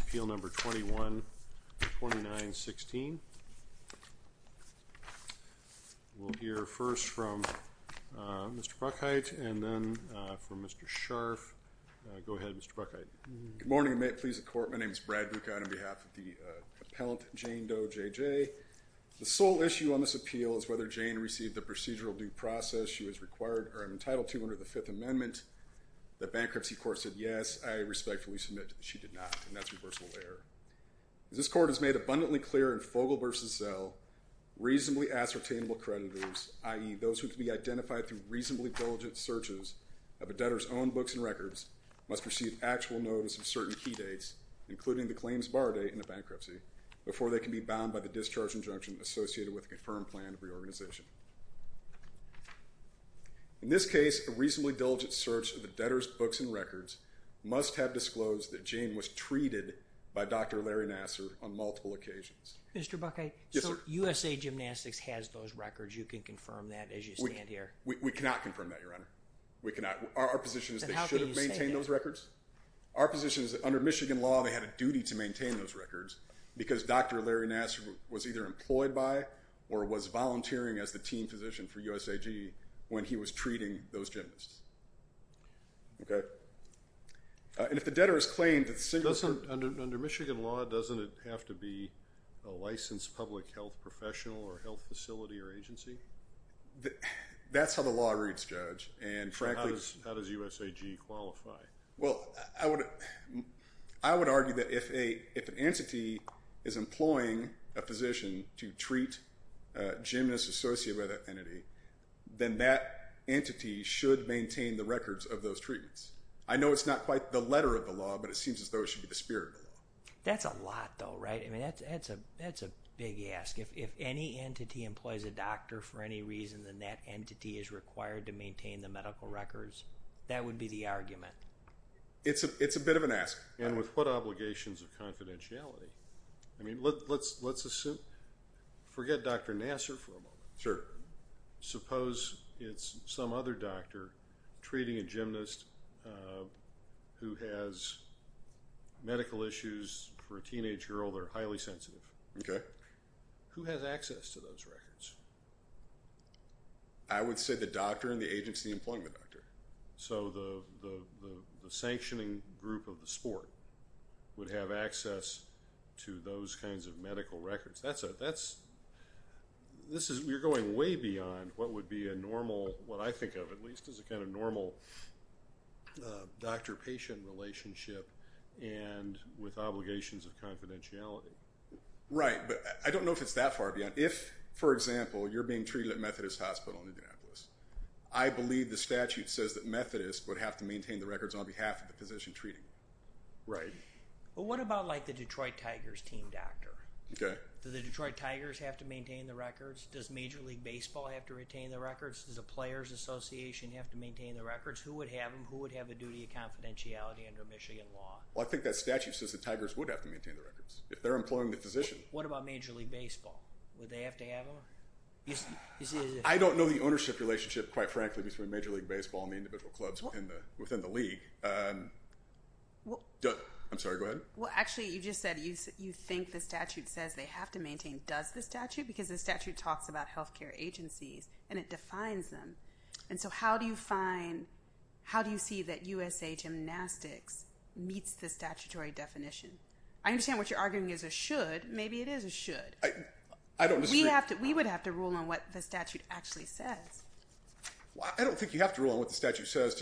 Appeal Number 21-2916. We'll hear first from Mr. Bruckheit and then from Mr. Scharf. Go ahead, Mr. Bruckheit. Good morning and may it please the Court, my name is Brad Bucott on behalf of the appellant Jane Doe JJ. The sole issue on this appeal is whether Jane received the procedural due process she was required or entitled to under the Fifth Amendment. The Bankruptcy Court said yes, I respectfully submit that she did not and that's reversible error. This court has made abundantly clear in Fogel versus Zell, reasonably ascertainable creditors, i.e. those who can be identified through reasonably diligent searches of a debtor's own books and records, must receive actual notice of certain key dates including the claims bar date in a bankruptcy before they can be bound by the discharge injunction associated with a confirmed plan of reorganization. In this case, a reasonably diligent search of the debtor's books and records must have disclosed that Jane was treated by Dr. Larry Nassar on multiple occasions. Mr. Bruckheit, so USA Gymnastics has those records, you can confirm that as you stand here? We cannot confirm that, Your Honor. We cannot. Our position is they should have maintained those records. Our position is that under Michigan law, doesn't it have to be a licensed public health professional or health facility or agency? That's how the law reads, Judge. And how does USAG qualify? Well, I would argue that if an entity is employing a physician to treat gymnasts associated by that entity, then that entity should maintain the records of those treatments. I know it's not quite the letter of the law, but it seems as though it should be the spirit of the law. That's a lot though, right? I mean, that's a big ask. If any entity employs a doctor for any reason, then that entity is the argument. It's a bit of an ask. And with what obligations of confidentiality? I mean, let's assume, forget Dr. Nassar for a moment. Sure. Suppose it's some other doctor treating a gymnast who has medical issues for a teenage girl that are highly sensitive. Okay. Who has access to those records? I would say the doctor and the agency employing the doctor. So, the sanctioning group of the sport would have access to those kinds of medical records. That's a, that's, this is, you're going way beyond what would be a normal, what I think of at least, is a kind of normal doctor-patient relationship and with obligations of confidentiality. Right, but I don't know if it's that far beyond. If, for example, you're being I believe the statute says that Methodists would have to maintain the records on behalf of the physician treating. Right. Well, what about like the Detroit Tigers team doctor? Okay. Do the Detroit Tigers have to maintain the records? Does Major League Baseball have to retain the records? Does the Players Association have to maintain the records? Who would have them? Who would have a duty of confidentiality under Michigan law? Well, I think that statute says the Tigers would have to maintain the records if they're employing the physician. What about Major League Baseball? Would they have to have them? I don't know the between Major League Baseball and the individual clubs within the league. I'm sorry, go ahead. Well, actually, you just said you think the statute says they have to maintain. Does the statute? Because the statute talks about health care agencies and it defines them. And so, how do you find, how do you see that USA Gymnastics meets the statutory definition? I understand what you're arguing is a should. Maybe it is a should. I don't. We have to, we would have to rule on what the statute actually says. I don't think you have to rule on what the statute says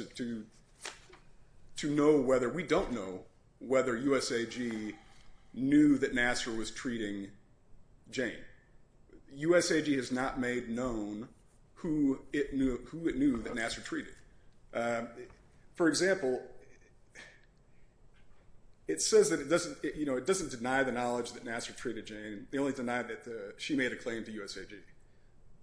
to know whether, we don't know whether USAG knew that Nassar was treating Jane. USAG has not made known who it knew that Nassar treated. For example, it says that it doesn't, you know, it doesn't deny the knowledge that Nassar treated Jane. They only denied that she made a claim to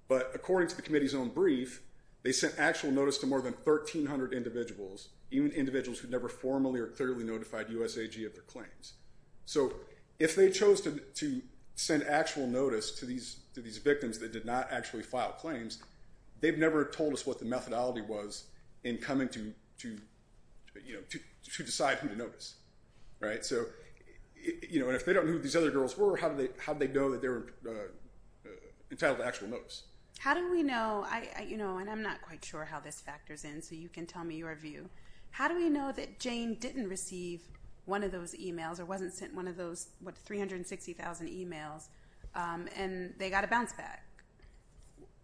but according to the committee's own brief, they sent actual notice to more than 1,300 individuals, even individuals who never formally or clearly notified USAG of their claims. So, if they chose to send actual notice to these victims that did not actually file claims, they've never told us what the methodology was in coming to, you know, to decide who to notice, right? So, you know, and if they don't know who these other girls were, how do they, how do they know that they were entitled to actual notice? How do we know, I, you know, and I'm not quite sure how this factors in, so you can tell me your view. How do we know that Jane didn't receive one of those emails or wasn't sent one of those, what, 360,000 emails and they got a bounce back?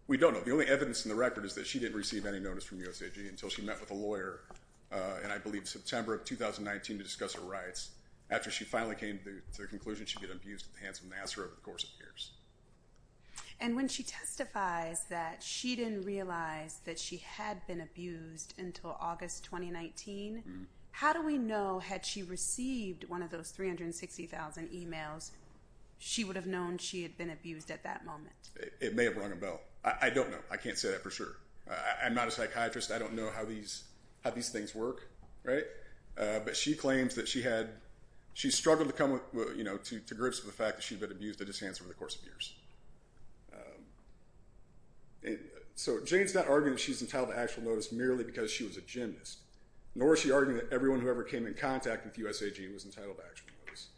We don't know. The only evidence in the record is that she didn't receive any notice from USAG until she met with a lawyer, and I believe September of 2019, to discuss her rights. After she finally came to the conclusion she'd get abused at the hands of an asshole over the course of years. And when she testifies that she didn't realize that she had been abused until August 2019, how do we know had she received one of those 360,000 emails, she would have known she had been abused at that moment? It may have rung a bell. I don't know. I can't say that for sure. I'm not a psychiatrist. I don't know how these, how these things work, right? But she claims that she had, she struggled to come with, you know, to grips with the fact that she'd been abused at his hands over the course of years. So Jane's not arguing that she's entitled to actual notice merely because she was a gymnast, nor is she arguing that everyone who ever came in contact with USAG was entitled to actual notice.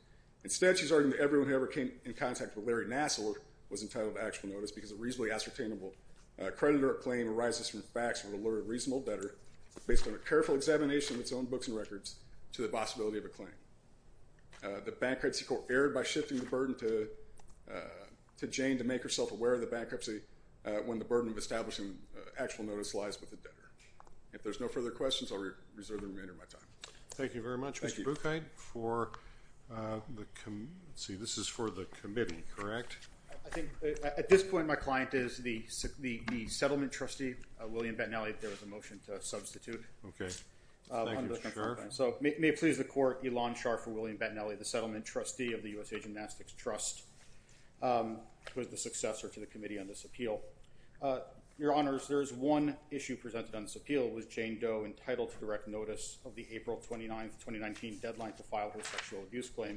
Instead, she's arguing that everyone who ever came in contact with Larry Nassler was entitled to actual notice because a reasonably ascertainable creditor or claim arises from facts from a lawyer reasonable better, based on a careful examination of his own books and records, to the possibility of a claim. The bankruptcy court erred by shifting the burden to, to Jane to make herself aware of the bankruptcy when the burden of establishing actual notice lies with the debtor. If there's no further questions, I'll reserve the remainder of my time. Thank you very much, Mr. Buchheit. For the, let's see, this is for the committee, correct? I think at this point my client is the settlement trustee, William Bettinelli, if there was a motion to adjourn. So may it please the court, Ilan Scharf for William Bettinelli, the settlement trustee of the USA Gymnastics Trust, was the successor to the committee on this appeal. Your Honors, there is one issue presented on this appeal. Was Jane Doe entitled to direct notice of the April 29th, 2019 deadline to file her sexual abuse claim?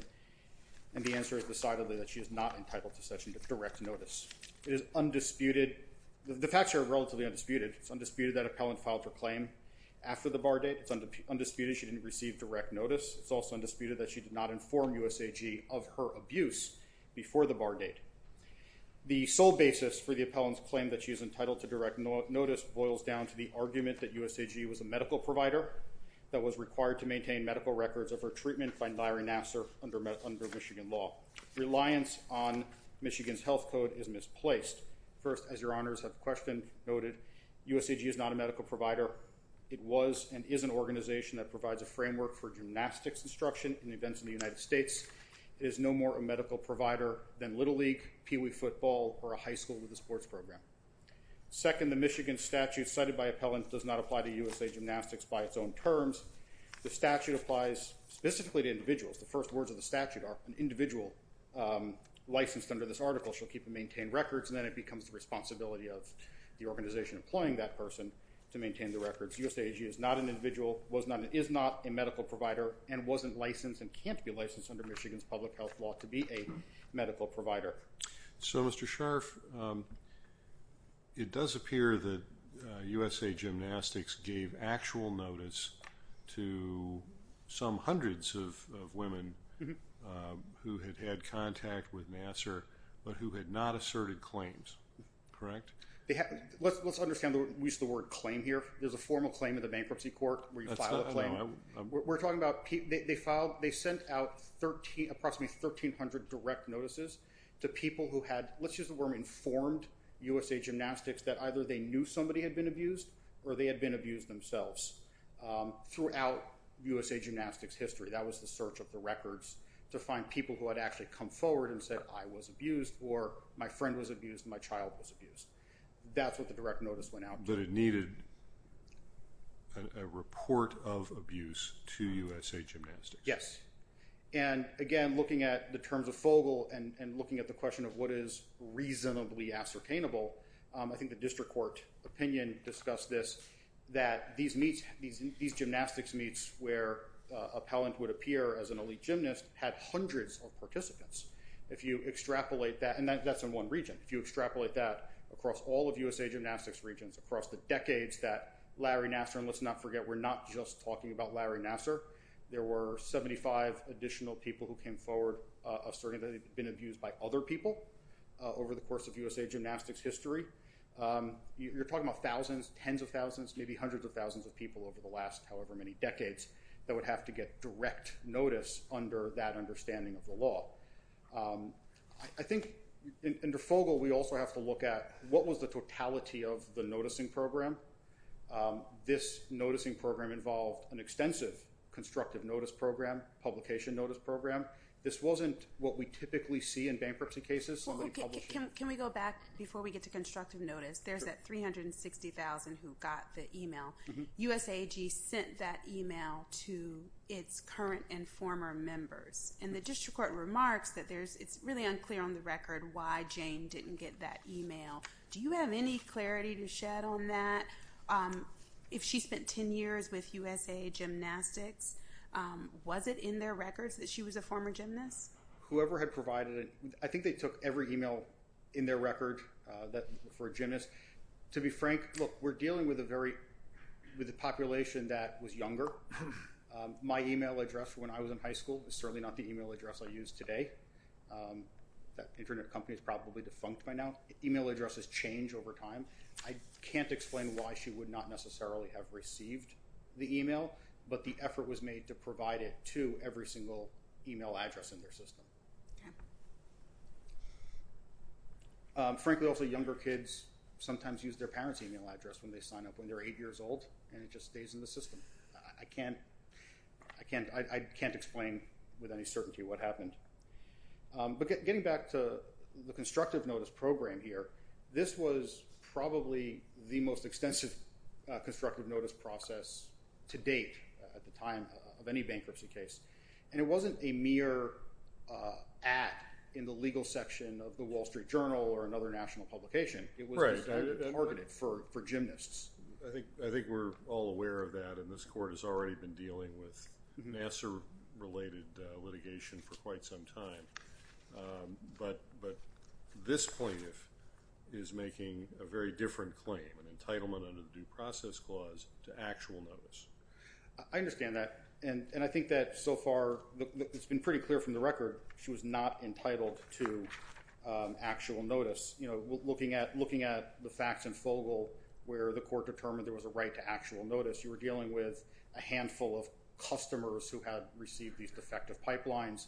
And the answer is decidedly that she is not entitled to such a direct notice. It is undisputed, the facts are relatively undisputed, it's undisputed that appellant filed her claim after the bar date. It's undisputed she didn't receive direct notice. It's also undisputed that she did not inform USAG of her abuse before the bar date. The sole basis for the appellant's claim that she is entitled to direct notice boils down to the argument that USAG was a medical provider that was required to maintain medical records of her treatment by Larry Nassar under Michigan law. Reliance on Michigan's health code is misplaced. First, as Your Honors have questioned, USAG is not a medical provider. It was and is an organization that provides a framework for gymnastics instruction in events in the United States. It is no more a medical provider than Little League, Peewee football, or a high school with a sports program. Second, the Michigan statute cited by appellant does not apply to USA Gymnastics by its own terms. The statute applies specifically to individuals. The first words of the statute are an individual licensed under this article shall keep and maintain records and then it becomes the organization employing that person to maintain the records. USAG is not an individual, is not a medical provider, and wasn't licensed and can't be licensed under Michigan's public health law to be a medical provider. So Mr. Scharf, it does appear that USA Gymnastics gave actual notice to some hundreds of women who had had contact with Nassar but who had not been abused. Let's understand the word claim here. There's a formal claim in the bankruptcy court where you file a claim. We're talking about they filed, they sent out 13, approximately 1,300 direct notices to people who had, let's use the word informed, USA Gymnastics that either they knew somebody had been abused or they had been abused themselves throughout USA Gymnastics history. That was the search of the records to find people who had actually come forward and said I was abused or my friend was abused, my child was abused. That's what the direct notice went out. But it needed a report of abuse to USA Gymnastics. Yes. And again, looking at the terms of Fogle and looking at the question of what is reasonably ascertainable, I think the district court opinion discussed this, that these meets, these gymnastics meets where appellant would appear as an elite gymnast had hundreds of participants. If you extrapolate that, and that's in one region, if you extrapolate that across all of USA Gymnastics regions across the decades that Larry Nassar, and let's not forget we're not just talking about Larry Nassar, there were 75 additional people who came forward asserting that they've been abused by other people over the course of USA Gymnastics history. You're talking about thousands, tens of thousands, maybe hundreds of thousands of people over the last however many decades that would have to get direct notice under that understanding of the law. I think under Fogle we also have to look at what was the totality of the noticing program. This noticing program involved an extensive constructive notice program, publication notice program. This wasn't what we typically see in bankruptcy cases. Can we go back before we get to constructive notice? There's that 360,000 who got the email. USAG sent that email to its current and former members. And the district court remarks that there's, it's really unclear on the record why Jane didn't get that email. Do you have any clarity to shed on that? If she spent 10 years with USA Gymnastics, was it in their records that she was a former gymnast? Whoever had provided it, I think they took every email in their record that for a gymnast. To be frank, look we're dealing with a very, with a population that was younger. My email address when I was in high school is certainly not the email address I use today. That internet company is probably defunct by now. Email addresses change over time. I can't explain why she would not necessarily have received the email, but the effort was made to provide it to every single email address in their system. Frankly also younger kids sometimes use their parents email address when they sign up when they're eight years old and it just stays in the system. I can't, I can't explain with any certainty what happened. But getting back to the constructive notice program here, this was probably the most extensive constructive notice process to date at the time of any bankruptcy case. And it wasn't a mere act in the legal section of the Wall Street Journal or another national publication. It was targeted for gymnasts. I think, I think we're all aware of that and this court has already been dealing with Nassar related litigation for quite some time. But this plaintiff is making a very different claim, an entitlement under the due process clause to actual notice. I understand that and and I think that so far it's been pretty clear from the record she was not entitled to actual notice. You know, looking at, looking at the facts in terms of actual notice, you were dealing with a handful of customers who had received these defective pipelines.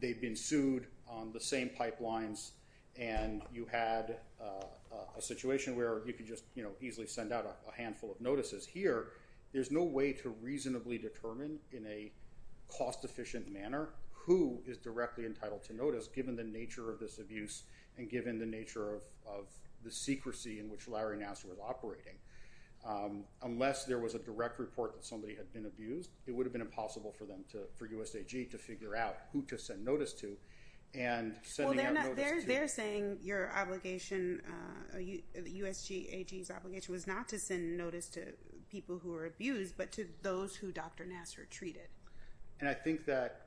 They've been sued on the same pipelines and you had a situation where you could just, you know, easily send out a handful of notices. Here there's no way to reasonably determine in a cost efficient manner who is directly entitled to notice given the nature of this abuse and given the nature of the secrecy in which Larry Nassar was operating. Unless there was a direct report that somebody had been abused, it would have been impossible for them to, for USGAG to figure out who to send notice to and sending out notice to... Well they're saying your obligation, USGAG's obligation was not to send notice to people who were abused but to those who Dr. Nassar treated. And I think that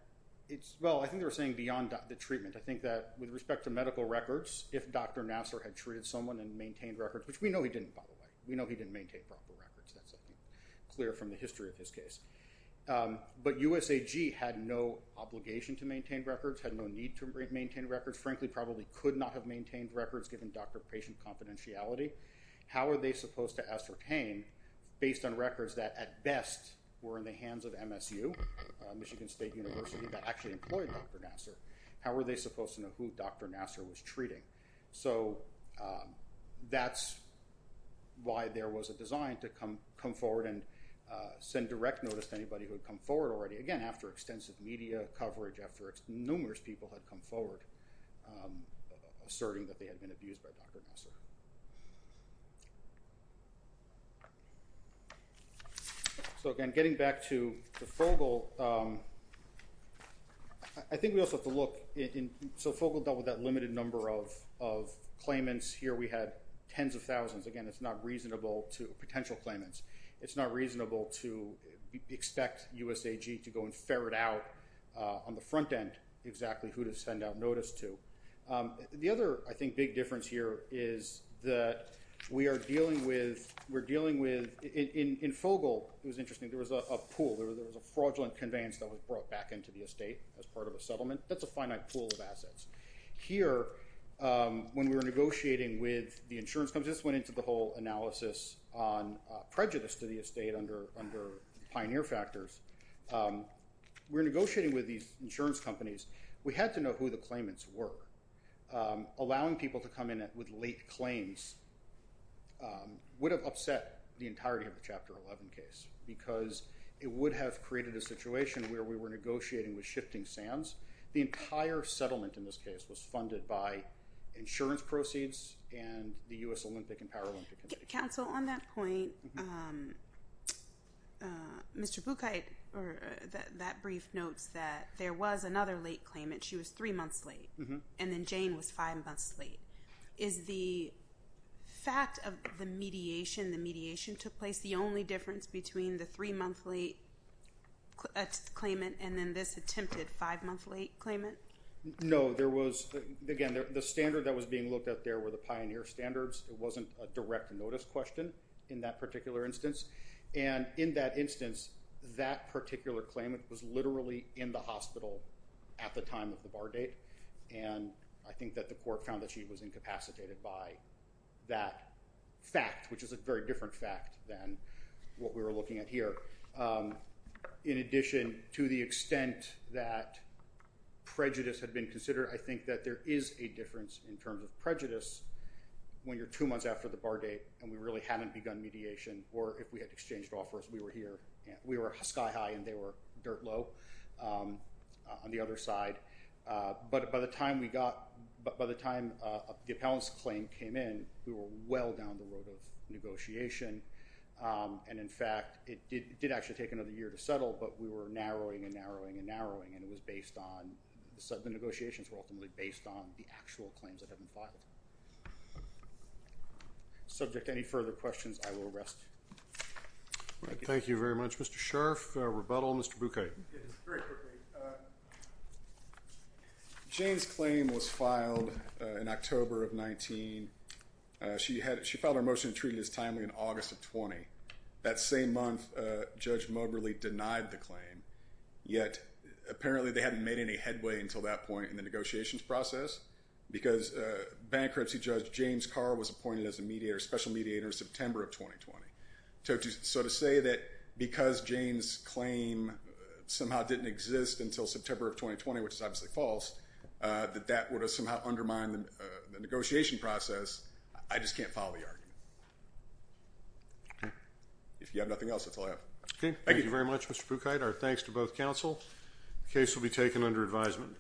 it's, well I think they're saying beyond the treatment. I think that with respect to medical records, if Dr. Nassar had treated someone and maintained records, which we know he didn't by the way. We know he didn't maintain proper records. That's I think clear from the history of his case. But USAG had no obligation to maintain records, had no need to maintain records, frankly probably could not have maintained records given Dr. patient confidentiality. How are they supposed to ascertain based on records that at best were in the hands of MSU, Michigan State University, that actually employed Dr. Nassar? How are they supposed to know who Dr. Nassar was treating? So that's why there was a design to come forward and send direct notice to anybody who had come forward already, again after extensive media coverage, after numerous people had come forward asserting that they had been abused by Dr. Nassar. So again getting back to the Fogel, I think we also have to look in, so Fogel dealt with that limited number of of claimants. Here we had tens of thousands. Again it's not reasonable to, potential claimants, it's not reasonable to expect USAG to go and ferret out on the front end exactly who to send out notice to. The other I think big difference here is that we are dealing with, we're dealing with, in Fogel it was interesting, there was a pool, there was a fraudulent conveyance that was brought back into the estate as part of a settlement. That's a finite pool of assets. Here when we were negotiating with the insurance companies, this went into the whole analysis on prejudice to the estate under pioneer factors, we're negotiating with these insurance companies. We had to figure out who the claimants were. Allowing people to come in with late claims would have upset the entirety of the Chapter 11 case because it would have created a situation where we were negotiating with shifting sands. The entire settlement in this case was funded by insurance proceeds and the US Olympic and Paralympic Committee. Counsel, on that point, Mr. Buchheit, that brief notes that there was another late claimant, she was three months late, and then Jane was five months late. Is the fact of the mediation, the mediation took place, the only difference between the three-monthly claimant and then this attempted five-monthly claimant? No, there was, again, the standard that was being looked at there were the pioneer standards. It wasn't a direct notice question in that particular instance, and in that instance that particular claimant was literally in the hospital at the time of the bar date, and I think that the court found that she was incapacitated by that fact, which is a very different fact than what we were looking at here. In addition, to the extent that prejudice had been considered, I think that there is a difference in terms of prejudice when you're two months after the bar date and we really haven't begun mediation, or if we had exchanged offers, we were here, we were sky-high and they were dirt low. On the other side, but by the time we got, by the time the appellant's claim came in, we were well down the road of negotiation, and in fact it did actually take another year to settle, but we were narrowing and narrowing and narrowing and it was based on, the negotiations were ultimately based on the actual claims that have been filed. Subject to any further questions, I will rest. Thank you very much, Mr. Scharf. Rebuttal, Mr. Bouquet. James' claim was filed in October of 19. She had, she filed her motion and treated it as timely in August of 20. That same month, Judge Moberly denied the claim, yet apparently they hadn't made any headway until that point in the negotiations process, because bankruptcy judge James Carr was appointed as a mediator, special mediator, September of 2020. So to say that because James' claim somehow didn't exist until September of 2020, which is obviously false, that that would have somehow undermined the negotiation process, I just can't follow the argument. If you have nothing else, that's all I have. Okay, thank you very much, Mr. Bouquet. Our thanks to both counsel. The case will be taken under advisement.